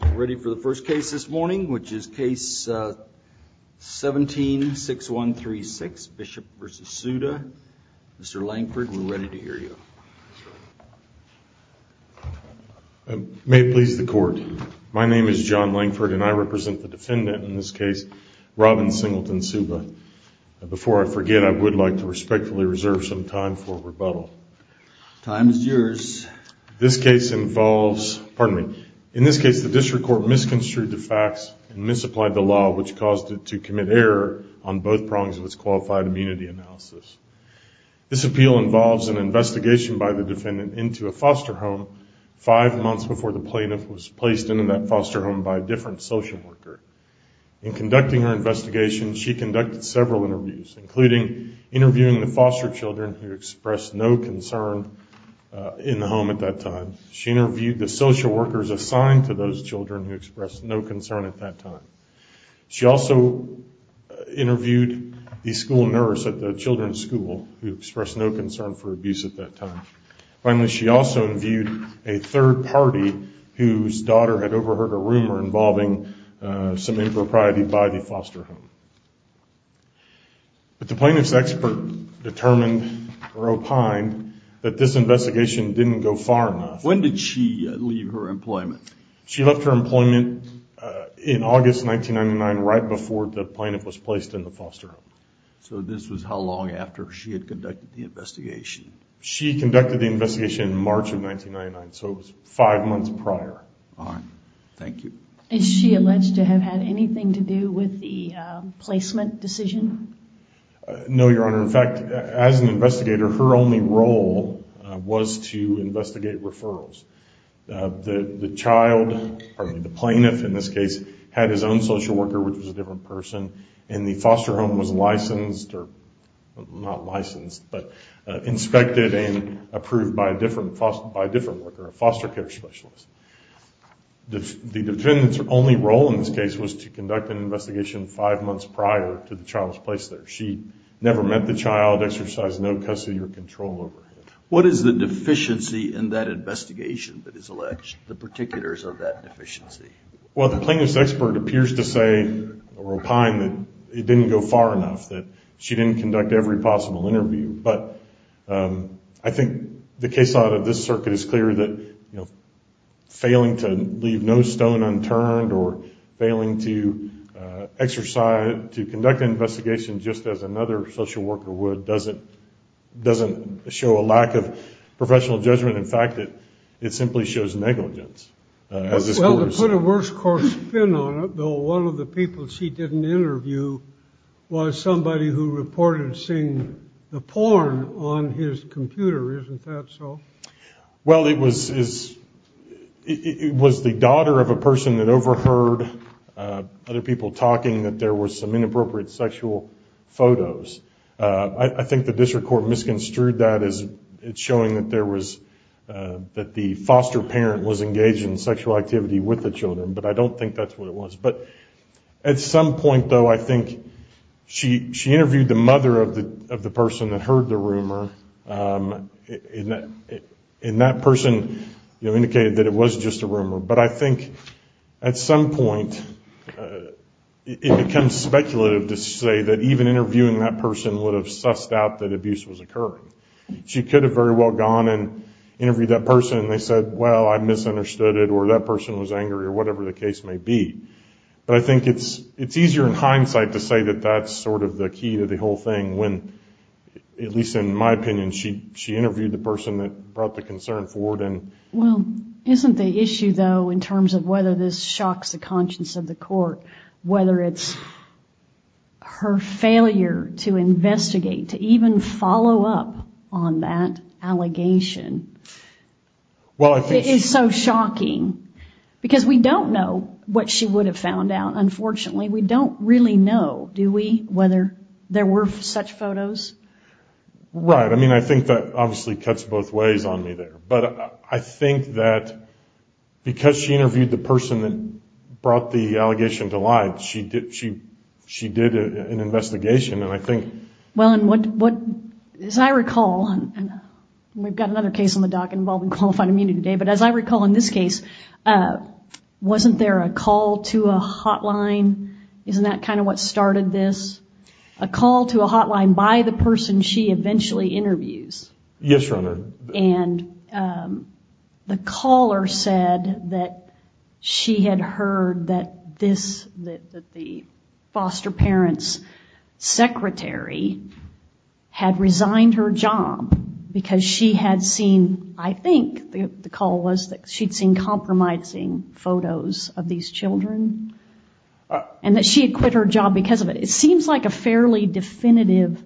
We're ready for the first case this morning, which is case 17-6136, Bishop v. Szuba. Mr. Lankford, we're ready to hear you. May it please the Court, my name is John Lankford and I represent the defendant in this case, Robin Singleton Szuba. Before I forget, I would like to respectfully reserve some time for rebuttal. Time is yours. In this case, the district court misconstrued the facts and misapplied the law, which caused it to commit error on both prongs of its qualified immunity analysis. This appeal involves an investigation by the defendant into a foster home five months before the plaintiff was placed into that foster home by a different social worker. In conducting her investigation, she conducted several interviews, including interviewing the foster children who expressed no concern in the home at that time. She interviewed the social workers assigned to those children who expressed no concern at that time. She also interviewed the school nurse at the children's school who expressed no concern for abuse at that time. Finally, she also interviewed a third party whose daughter had overheard a rumor involving some impropriety by the foster home. But the plaintiff's expert determined or opined that this investigation didn't go far enough. When did she leave her employment? She left her employment in August 1999, right before the plaintiff was placed in the foster home. So this was how long after she had conducted the investigation? She conducted the investigation in March of 1999, so it was five months prior. All right. Thank you. Is she alleged to have had anything to do with the placement decision? No, Your Honor. In fact, as an investigator, her only role was to investigate referrals. The child, or the plaintiff in this case, had his own social worker, which was a different person, and the foster home was licensed, or not licensed, but inspected and approved by a different worker, a foster care specialist. The defendant's only role in this case was to conduct an investigation five months prior to the child's place there. She never met the child, exercised no custody or control over him. What is the deficiency in that investigation that is alleged, the particulars of that deficiency? Well, the plaintiff's expert appears to say, or opined, that it didn't go far enough, that she didn't conduct every possible interview. But I think the case law of this circuit is clear that failing to leave no stone unturned or failing to conduct an investigation just as another social worker would doesn't show a lack of professional judgment. In fact, it simply shows negligence. Well, to put a worst course fin on it, though, one of the people she didn't interview was somebody who reported seeing the porn on his computer, isn't that so? Well, it was the daughter of a person that overheard other people talking that there were some inappropriate sexual photos. I think the district court misconstrued that as showing that the foster parent was engaged in sexual activity with the children, but I don't think that's what it was. But at some point, though, I think she interviewed the mother of the person that heard the rumor, and that person indicated that it was just a rumor. But I think at some point it becomes speculative to say that even interviewing that person would have sussed out that abuse was occurring. She could have very well gone and interviewed that person and they said, well, I misunderstood it or that person was angry or whatever the case may be. But I think it's easier in hindsight to say that that's sort of the key to the whole thing when, at least in my opinion, she interviewed the person that brought the concern forward. Well, isn't the issue, though, in terms of whether this shocks the conscience of the court, whether it's her failure to investigate, to even follow up on that allegation, is so shocking? Because we don't know what she would have found out, unfortunately. We don't really know, do we, whether there were such photos? Right. I mean, I think that obviously cuts both ways on me there. But I think that because she interviewed the person that brought the allegation to light, she did an investigation, and I think... Well, and as I recall, and we've got another case on the dock involving Qualified Immunity today, but as I recall in this case, wasn't there a call to a hotline? Isn't that kind of what started this? A call to a hotline by the person she eventually interviews. Yes, Your Honor. And the caller said that she had heard that the foster parent's secretary had resigned her job because she had seen, I think the call was that she'd seen compromising photos of these children, and that she had quit her job because of it. It seems like a fairly definitive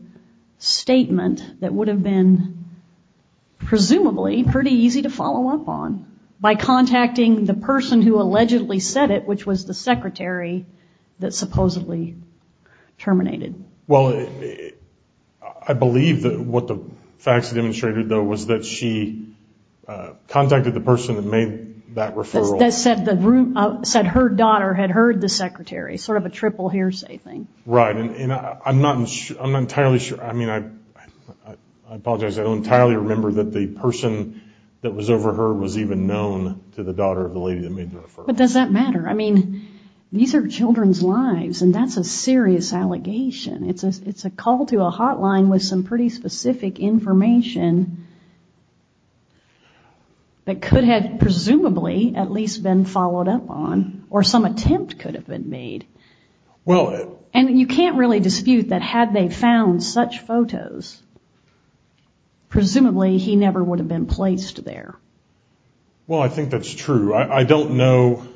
statement that would have been, presumably, pretty easy to follow up on by contacting the person who allegedly said it, which was the secretary that supposedly terminated. Well, I believe that what the facts demonstrated, though, was that she contacted the person that made that referral. That said her daughter had heard the secretary, sort of a triple hearsay thing. Right. And I'm not entirely sure, I mean, I apologize, I don't entirely remember that the person that was over her was even known to the daughter of the lady that made the referral. But does that matter? I mean, these are children's lives, and that's a serious allegation. It's a call to a hotline with some pretty specific information that could have presumably at least been followed up on, or some attempt could have been made. And you can't really dispute that had they found such photos, presumably he never would have been placed there. Well, I think that's true. I don't know,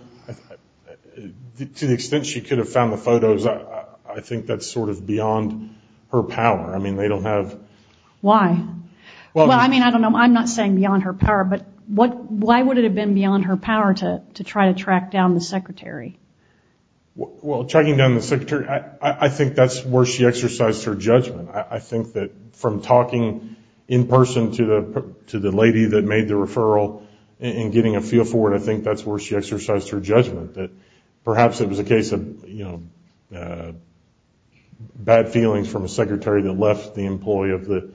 to the extent she could have found the photos, I think that's sort of beyond her power. I mean, they don't have... Why? Well, I mean, I don't know, I'm not saying beyond her power, but why would it have been beyond her power to try to track down the secretary? Well, tracking down the secretary, I think that's where she exercised her judgment. I think that from talking in person to the lady that made the referral and getting a I think that's where she exercised her judgment, that perhaps it was a case of, you know, bad feelings from a secretary that left the employee of the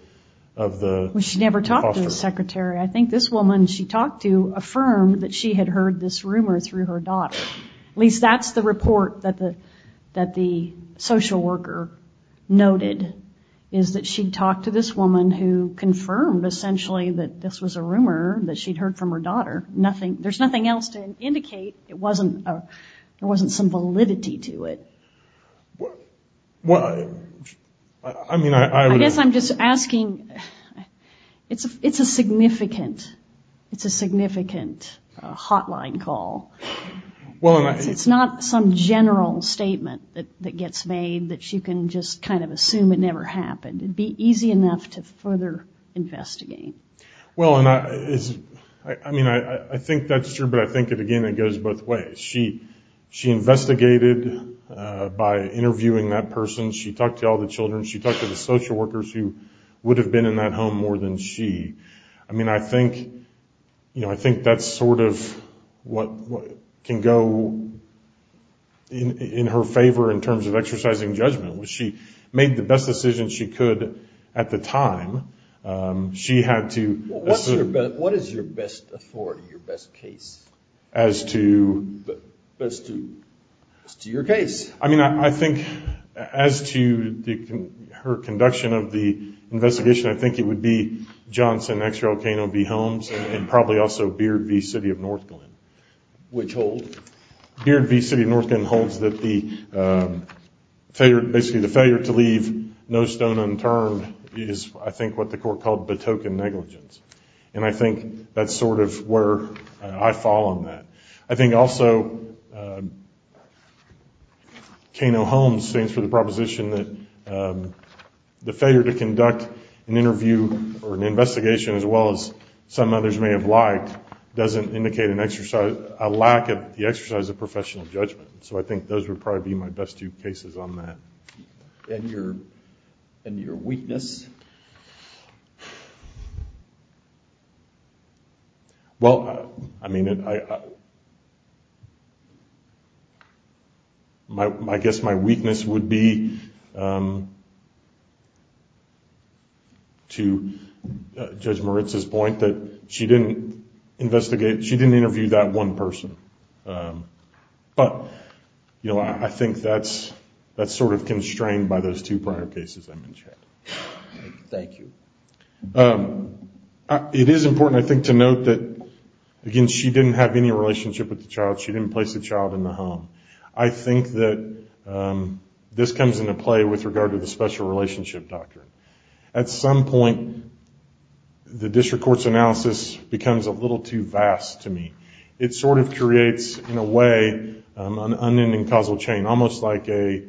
hospital. Well, she never talked to the secretary. I think this woman she talked to affirmed that she had heard this rumor through her daughter. At least that's the report that the social worker noted, is that she talked to this woman who confirmed, essentially, that this was a rumor that she'd heard from her daughter. There's nothing else to indicate it wasn't, there wasn't some validity to it. Well, I mean, I would... I guess I'm just asking, it's a significant, it's a significant hotline call. It's not some general statement that gets made that you can just kind of assume it never happened. It'd be easy enough to further investigate. Well, and I mean, I think that's true, but I think, again, it goes both ways. She investigated by interviewing that person. She talked to all the children. She talked to the social workers who would have been in that home more than she. I mean, I think, you know, I think that's sort of what can go in her favor in terms of exercising judgment. She made the best decision she could at the time. She had to... What is your best authority, your best case? As to... Best to your case. I mean, I think, as to her conduction of the investigation, I think it would be Johnson X. Rocano v. Holmes, and probably also Beard v. City of North Glen. Which hold? Beard v. City of North Glen holds that the failure, basically, the failure to leave no stone unturned is, I think, what the court called Batoken negligence. And I think that's sort of where I fall on that. I think, also, Kano-Holmes stands for the proposition that the failure to conduct an interview or an investigation, as well as some others may have liked, doesn't indicate an exercise, a lack of the exercise of professional judgment. So I think those would probably be my best two cases on that. And your weakness? Well, I mean, I guess my weakness would be, to Judge Moritz's point, that she didn't investigate, she didn't interview that one person. But, you know, I think that's sort of constrained by those two prior cases I mentioned. Thank you. It is important, I think, to note that, again, she didn't have any relationship with the child. She didn't place the child in the home. I think that this comes into play with regard to the special relationship doctrine. At some point, the district court's analysis becomes a little too vast to me. It sort of creates, in a way, an unending causal chain, almost like a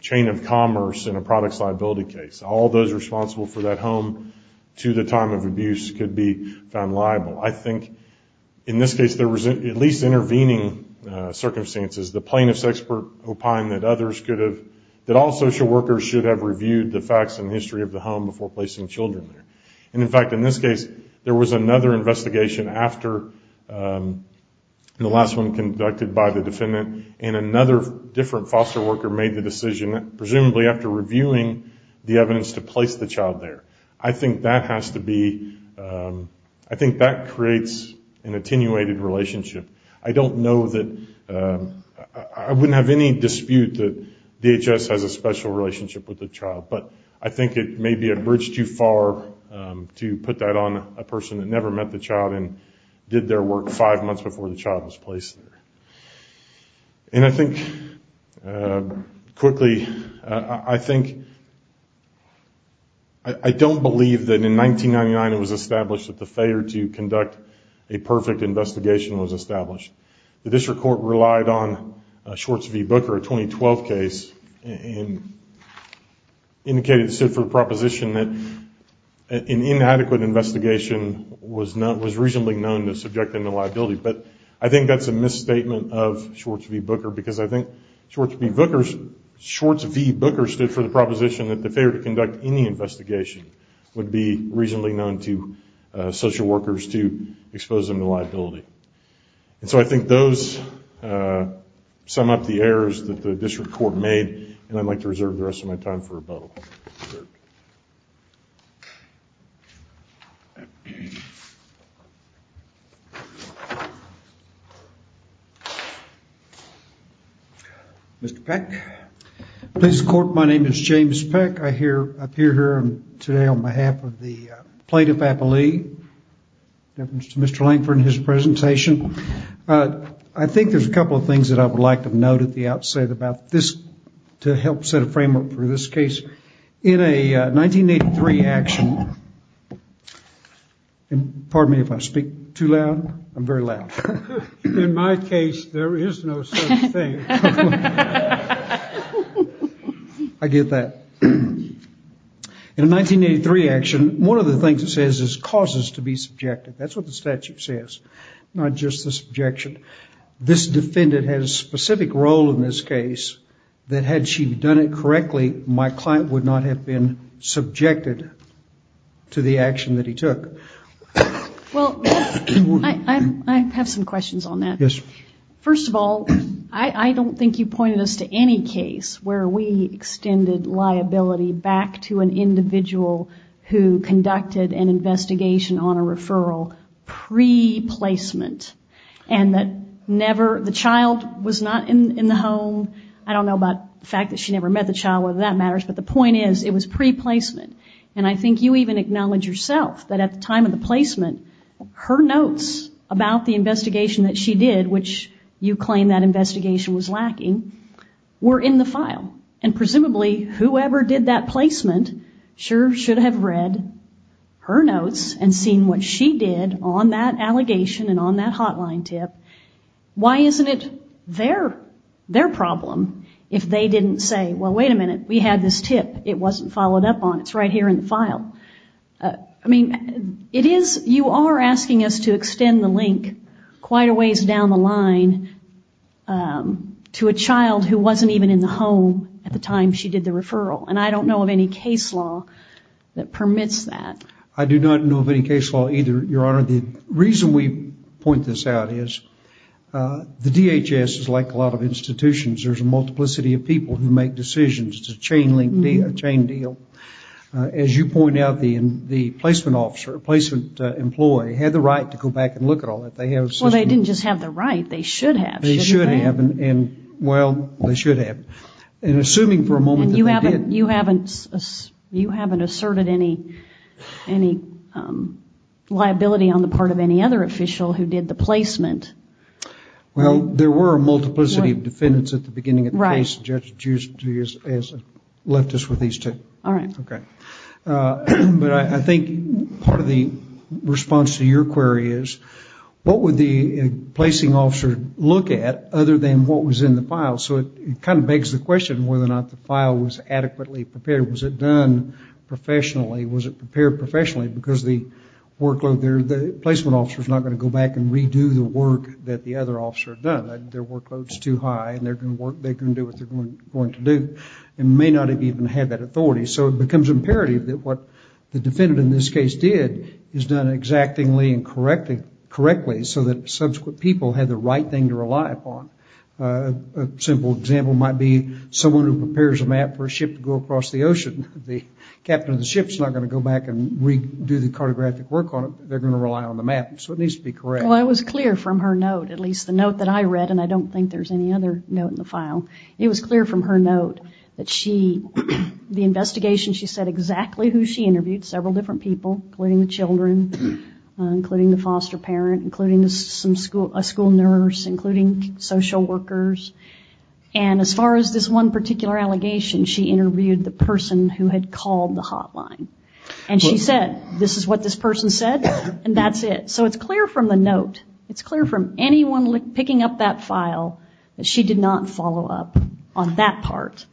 chain of commerce in a product's liability case. All those responsible for that home to the time of abuse could be found liable. I think, in this case, there was, at least intervening circumstances, the plaintiff's expert opined that all social workers should have reviewed the facts and history of the home before placing children there. In fact, in this case, there was another investigation after the last one conducted by the defendant and another different foster worker made the decision, presumably after reviewing the evidence, to place the child there. I think that has to be, I think that creates an attenuated relationship. I don't know that, I wouldn't have any dispute that DHS has a special relationship with the to put that on a person that never met the child and did their work five months before the child was placed there. And I think, quickly, I think, I don't believe that in 1999 it was established that the failure to conduct a perfect investigation was established. The district court relied on a Schwartz v. Booker, a 2012 case, and indicated it stood for the proposition that an inadequate investigation was reasonably known to subject them to liability. But I think that's a misstatement of Schwartz v. Booker because I think Schwartz v. Booker stood for the proposition that the failure to conduct any investigation would be reasonably And so I think those sum up the errors that the district court made, and I'd like to reserve the rest of my time for rebuttal. Mr. Peck. Mr. Court, my name is James Peck. I appear here today on behalf of the plaintiff, Applee, in reference to Mr. Lankford and his presentation. I think there's a couple of things that I would like to note at the outset about this to help set a framework for this case. In a 1983 action, pardon me if I speak too loud. I'm very loud. In my case, there is no such thing. I get that. In a 1983 action, one of the things it says is causes to be subjective. That's what the statute says, not just the subjection. This defendant has a specific role in this case that had she done it correctly, my client would not have been subjected to the action that he took. Well, I have some questions on that. Yes. First of all, I don't think you pointed us to any case where we extended liability back to an individual who conducted an investigation on a referral pre-placement and that never, the child was not in the home. I don't know about the fact that she never met the child, whether that matters, but the point is it was pre-placement. And I think you even acknowledge yourself that at the time of the placement, her notes about the investigation that she did, which you claim that investigation was lacking, were in the file. And presumably, whoever did that placement sure should have read her notes and seen what she did on that allegation and on that hotline tip. Why isn't it their problem if they didn't say, well, wait a minute, we had this tip. It wasn't followed up on. It's right here in the file. I mean, you are asking us to extend the link quite a ways down the line to a child who wasn't even in the home at the time she did the referral. And I don't know of any case law that permits that. I do not know of any case law either, Your Honor. The reason we point this out is the DHS is like a lot of institutions. There's a multiplicity of people who make decisions. It's a chain link deal, a chain deal. As you point out, the placement officer, placement employee, had the right to go back and look at all that. Well, they didn't just have the right. They should have. They should have. Well, they should have. And assuming for a moment that they did. And you haven't asserted any liability on the part of any other official who did the placement. Well, there were a multiplicity of defendants at the beginning of the case. All right. Okay. But I think part of the response to your query is, what would the placing officer look at other than what was in the file? So it kind of begs the question whether or not the file was adequately prepared. Was it done professionally? Was it prepared professionally? Because the workload there, the placement officer is not going to go back and redo the work that the other officer had done. Their workload is too high and they're going to do what they're going to do and may not have even had that authority. So it becomes imperative that what the defendant in this case did is done exactingly and correctly so that subsequent people had the right thing to rely upon. A simple example might be someone who prepares a map for a ship to go across the ocean. The captain of the ship is not going to go back and redo the cartographic work on it. They're going to rely on the map. So it needs to be correct. Well, I was clear from her note, at least the note that I read, and I don't think there's any other note in the file, it was clear from her note that the investigation, she said exactly who she interviewed, several different people, including the children, including the foster parent, including a school nurse, including social workers. And as far as this one particular allegation, she interviewed the person who had called the hotline. And she said, this is what this person said and that's it. So it's clear from the note. It's clear from anyone picking up that file that she did not follow up on that part.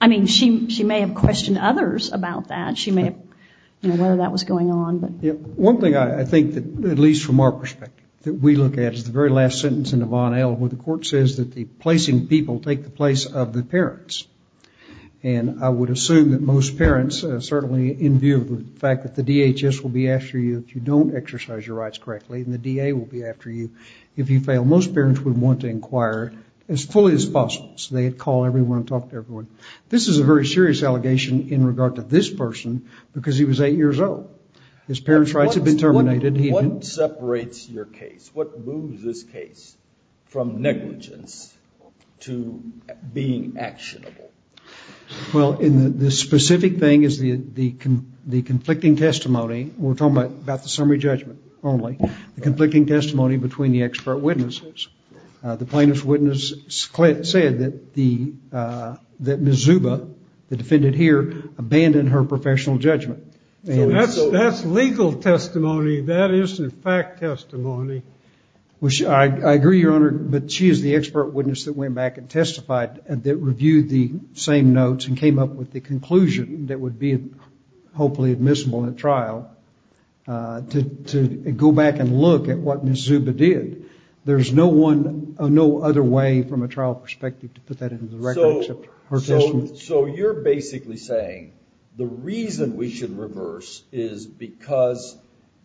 I mean, she may have questioned others about that. She may have, you know, whether that was going on. One thing I think that, at least from our perspective, that we look at is the very last sentence in the Bonnell where the court says that the placing people take the place of the parents. And I would assume that most parents, certainly in view of the fact that the DHS will be after you if you don't exercise your rights correctly and the DA will be after you if you fail, most parents would want to inquire as fully as possible so they'd call everyone and talk to everyone. This is a very serious allegation in regard to this person because he was eight years old. His parents' rights had been terminated. What separates your case? What moves this case from negligence to being actionable? Well, the specific thing is the conflicting testimony. We're talking about the summary judgment only. The conflicting testimony between the expert witnesses. The plaintiff's witness said that Ms. Zuba, the defendant here, abandoned her professional judgment. That's legal testimony. That isn't fact testimony. I agree, Your Honor, but she is the expert witness that went back and testified that reviewed the same notes and came up with the conclusion that would be hopefully admissible in a trial to go back and look at what Ms. Zuba did. There's no other way from a trial perspective to put that into the record except her testimony. So you're basically saying the reason we should reverse is because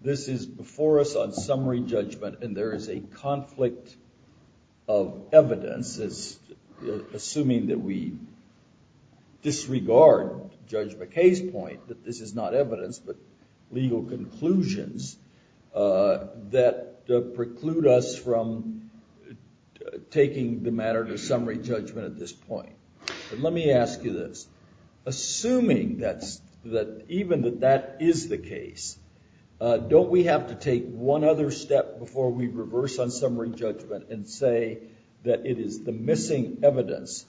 this is before us on summary judgment and there is a conflict of evidence, assuming that we disregard Judge McKay's point that this is not evidence but legal conclusions that preclude us from taking the matter to summary judgment at this point. Let me ask you this. Assuming that even that that is the case, don't we have to take one other step before we reverse on summary judgment and say that it is the missing evidence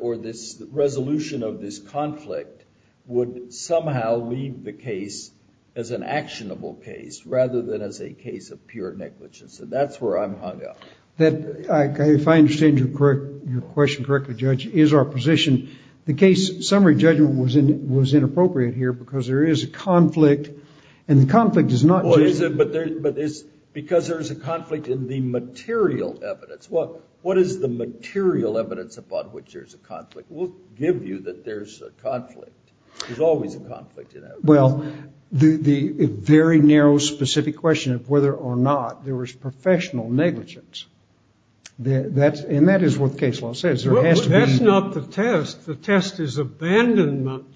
or this resolution of this conflict would somehow leave the case as an actionable case rather than as a case of pure negligence? That's where I'm hung up. If I understand your question correctly, Judge, is our position the case summary judgment was inappropriate here because there is a conflict and the conflict is not just... Because there is a conflict in the material evidence. What is the material evidence upon which there's a conflict? We'll give you that there's a conflict. There's always a conflict in evidence. Well, the very narrow specific question of whether or not there was professional negligence, and that is what the case law says. That's not the test. The test is abandonment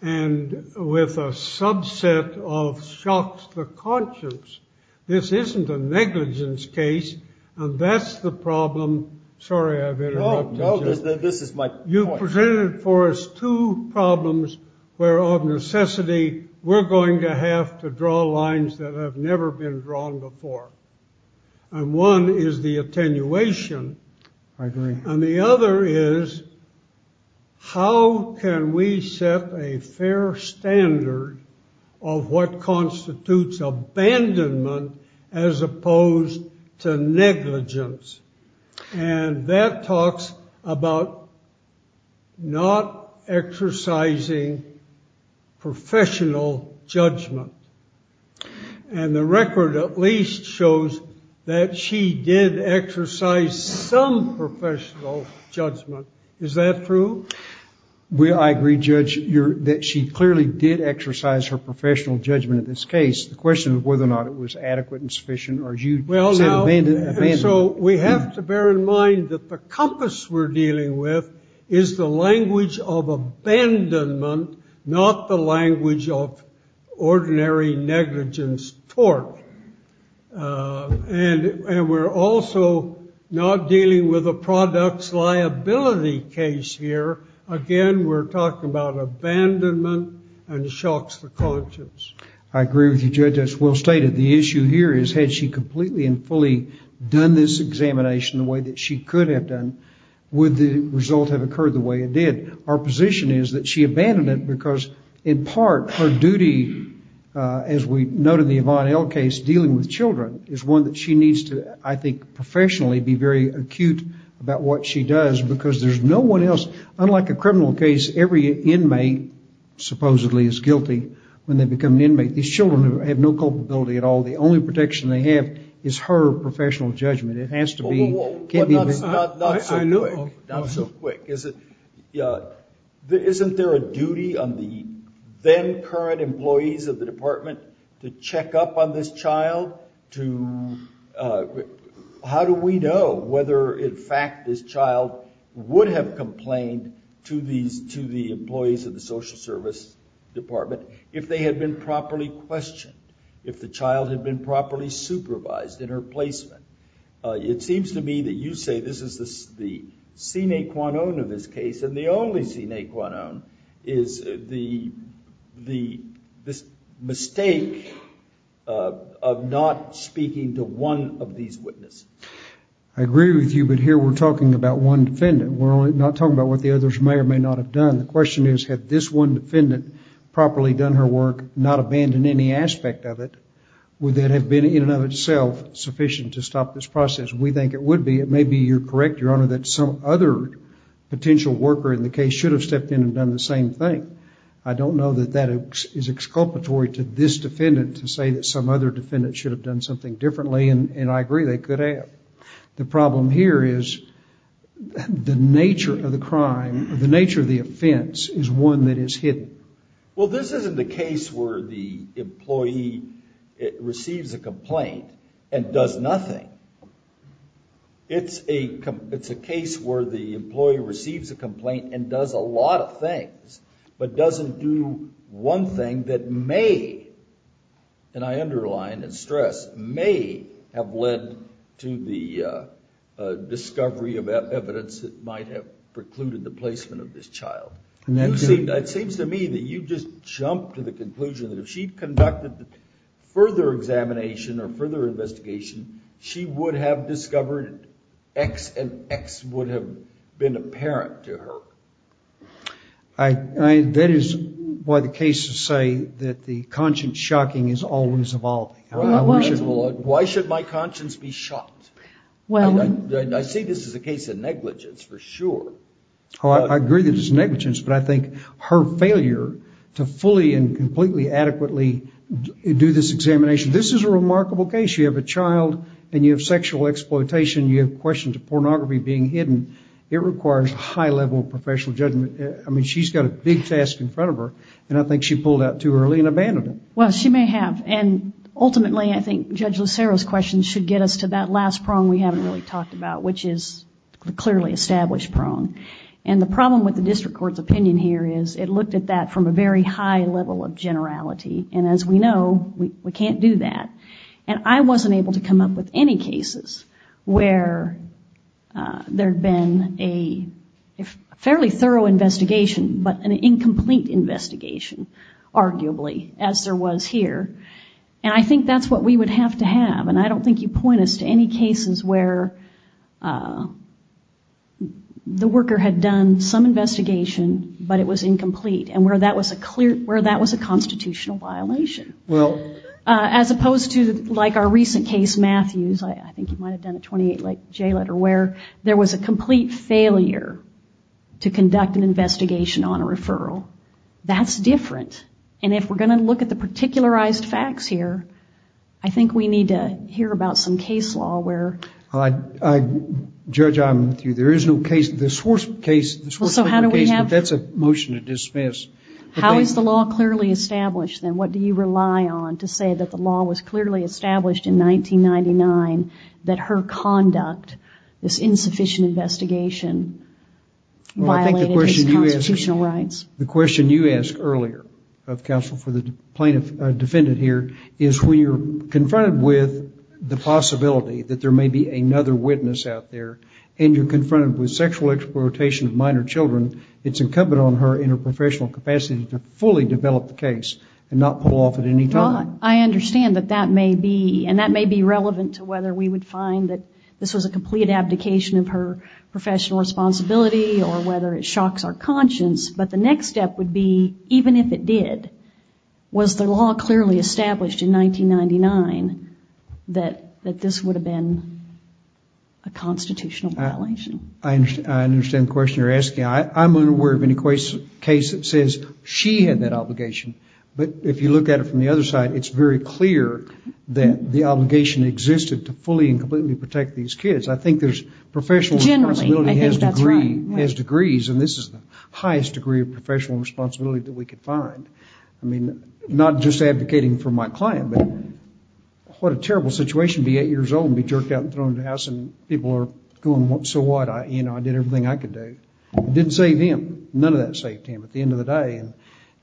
and with a subset of shocks to the conscience. This isn't a negligence case and that's the problem. Sorry, I've interrupted you. This is my point. You presented for us two problems where of necessity we're going to have to draw lines that have never been drawn before. And one is the attenuation. I agree. And the other is how can we set a fair standard of what constitutes abandonment as opposed to negligence? And that talks about not exercising professional judgment. And the record at least shows that she did exercise some professional judgment. Is that true? I agree, Judge, that she clearly did exercise her professional judgment in this case. The question is whether or not it was adequate and sufficient. So we have to bear in mind that the compass we're dealing with is the language of abandonment, not the language of ordinary negligence tort. And we're also not dealing with a products liability case here. Again, we're talking about abandonment and shocks to conscience. I agree with you, Judge. That's well stated. The issue here is had she completely and fully done this examination the way that she could have done, would the result have occurred the way it did? Our position is that she abandoned it because in part her duty, as we note in the Yvonne L case, dealing with children, is one that she needs to, I think, professionally be very acute about what she does because there's no one else. Unlike a criminal case, every inmate supposedly is guilty when they become an inmate. These children have no culpability at all. The only protection they have is her professional judgment. It has to be... Not so quick. Isn't there a duty on the then current employees of the department to check up on this child? How do we know whether, in fact, this child would have complained to the employees of the social service department if they had been properly questioned, if the child had been properly supervised in her placement? It seems to me that you say this is the sine qua non of this case, and the only sine qua non is this mistake of not speaking to one of these witnesses. I agree with you, but here we're talking about one defendant. We're not talking about what the others may or may not have done. The question is, had this one defendant properly done her work, not abandoned any aspect of it, would that have been, in and of itself, sufficient to stop this process? We think it would be. It may be, you're correct, Your Honor, that some other potential worker in the case should have stepped in and done the same thing. I don't know that that is exculpatory to this defendant to say that some other defendant should have done something differently, and I agree they could have. The problem here is the nature of the crime, the nature of the offense, is one that is hidden. Well, this isn't a case where the employee receives a complaint and does nothing. It's a case where the employee receives a complaint and does a lot of things, but doesn't do one thing that may, and I underline and stress, may have led to the discovery of evidence that might have precluded the placement of this child. It seems to me that you just jumped to the conclusion that if she'd conducted further examination or further investigation, she would have discovered X and X would have been apparent to her. That is why the cases say that the conscience shocking is always evolving. Why should my conscience be shocked? I say this is a case of negligence for sure. I agree that it's negligence, but I think her failure to fully and completely adequately do this examination... This is a remarkable case. You have a child, and you have sexual exploitation. You have questions of pornography being hidden. It requires a high level of professional judgment. I mean, she's got a big task in front of her, and I think she pulled out too early and abandoned it. Well, she may have, and ultimately I think Judge Lucero's question should get us to that last prong we haven't really talked about, which is the clearly established prong. And the problem with the district court's opinion here is it looked at that from a very high level of generality, and as we know, we can't do that. And I wasn't able to come up with any cases where there'd been a fairly thorough investigation, but an incomplete investigation, arguably, as there was here. And I think that's what we would have to have, and I don't think you point us to any cases where the worker had done some investigation, but it was incomplete, and where that was a constitutional violation. Well... As opposed to, like, our recent case, Matthews, I think you might have done a 28J letter, where there was a complete failure to conduct an investigation on a referral. That's different. And if we're going to look at the particularized facts here, I think we need to hear about some case law where... Judge, I'm with you. There is no case. The Swartz case... Well, so how do we have... That's a motion to dismiss. How is the law clearly established, then? What do you rely on to say that the law was clearly established in 1999, that her conduct, this insufficient investigation, violated his constitutional rights? The question you asked earlier, Counsel, for the defendant here, is when you're confronted with the possibility that there may be another witness out there, and you're confronted with sexual exploitation of minor children, it's incumbent on her interprofessional capacity to fully develop the case and not pull off at any time. Well, I understand that that may be... And that may be relevant to whether we would find that this was a complete abdication of her professional responsibility or whether it shocks our conscience, but the next step would be, even if it did, was the law clearly established in 1999 that this would have been a constitutional violation? I understand the question you're asking. I'm unaware of any case that says she had that obligation, but if you look at it from the other side, it's very clear that the obligation existed to fully and completely protect these kids. I think there's professional responsibility... Generally, I think that's right. Everybody has degrees, and this is the highest degree of professional responsibility that we could find. I mean, not just advocating for my client, but what a terrible situation to be eight years old and be jerked out and thrown in the house, and people are going, so what? I did everything I could do. It didn't save him. None of that saved him. At the end of the day,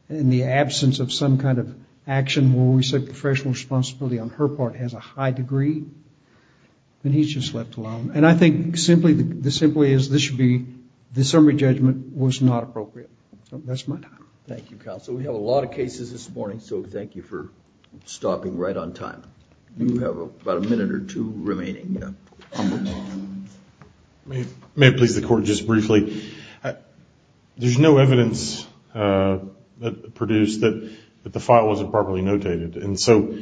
in the absence of some kind of action where we said professional responsibility on her part has a high degree, then he's just left alone. And I think simply as this should be, the summary judgment was not appropriate. That's my time. Thank you, Counsel. We have a lot of cases this morning, so thank you for stopping right on time. You have about a minute or two remaining. May it please the Court, just briefly, there's no evidence produced that the file wasn't properly notated, and so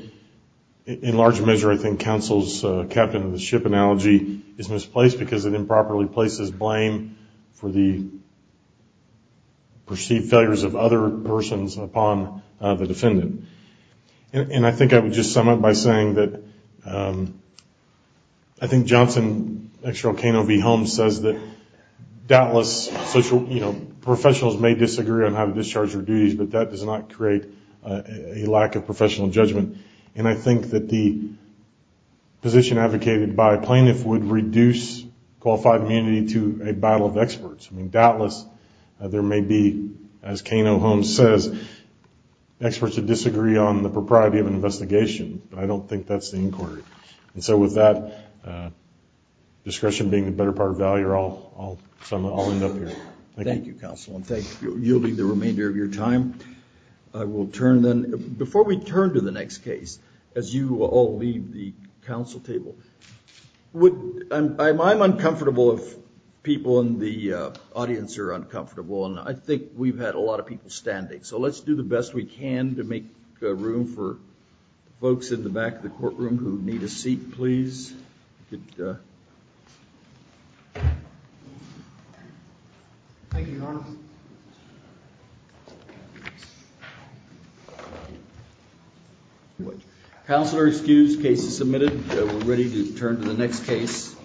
in large measure, I think Counsel's captain-of-the-ship analogy is misplaced because it improperly places blame for the perceived failures of other persons upon the defendant. And I think I would just sum up by saying that I think Johnson, ex-row Cano v. Holmes, says that doubtless professionals may disagree on how to discharge their duties, but that does not create a lack of professional judgment. And I think that the position advocated by a plaintiff would reduce qualified immunity to a battle of experts. Doubtless, there may be, as Cano v. Holmes says, experts who disagree on the propriety of an investigation, but I don't think that's the inquiry. And so with that discretion being the better part of value, I'll end up here. Thank you. Thank you, Counsel, and thank you for yielding the remainder of your time. I will turn then. Before we turn to the next case, as you all leave the council table, I'm uncomfortable if people in the audience are uncomfortable, and I think we've had a lot of people standing, so let's do the best we can to make room for folks in the back of the courtroom who need a seat, please. Thank you, Your Honor. Thank you. Counsel are excused. Case is submitted. We're ready to turn to the next case.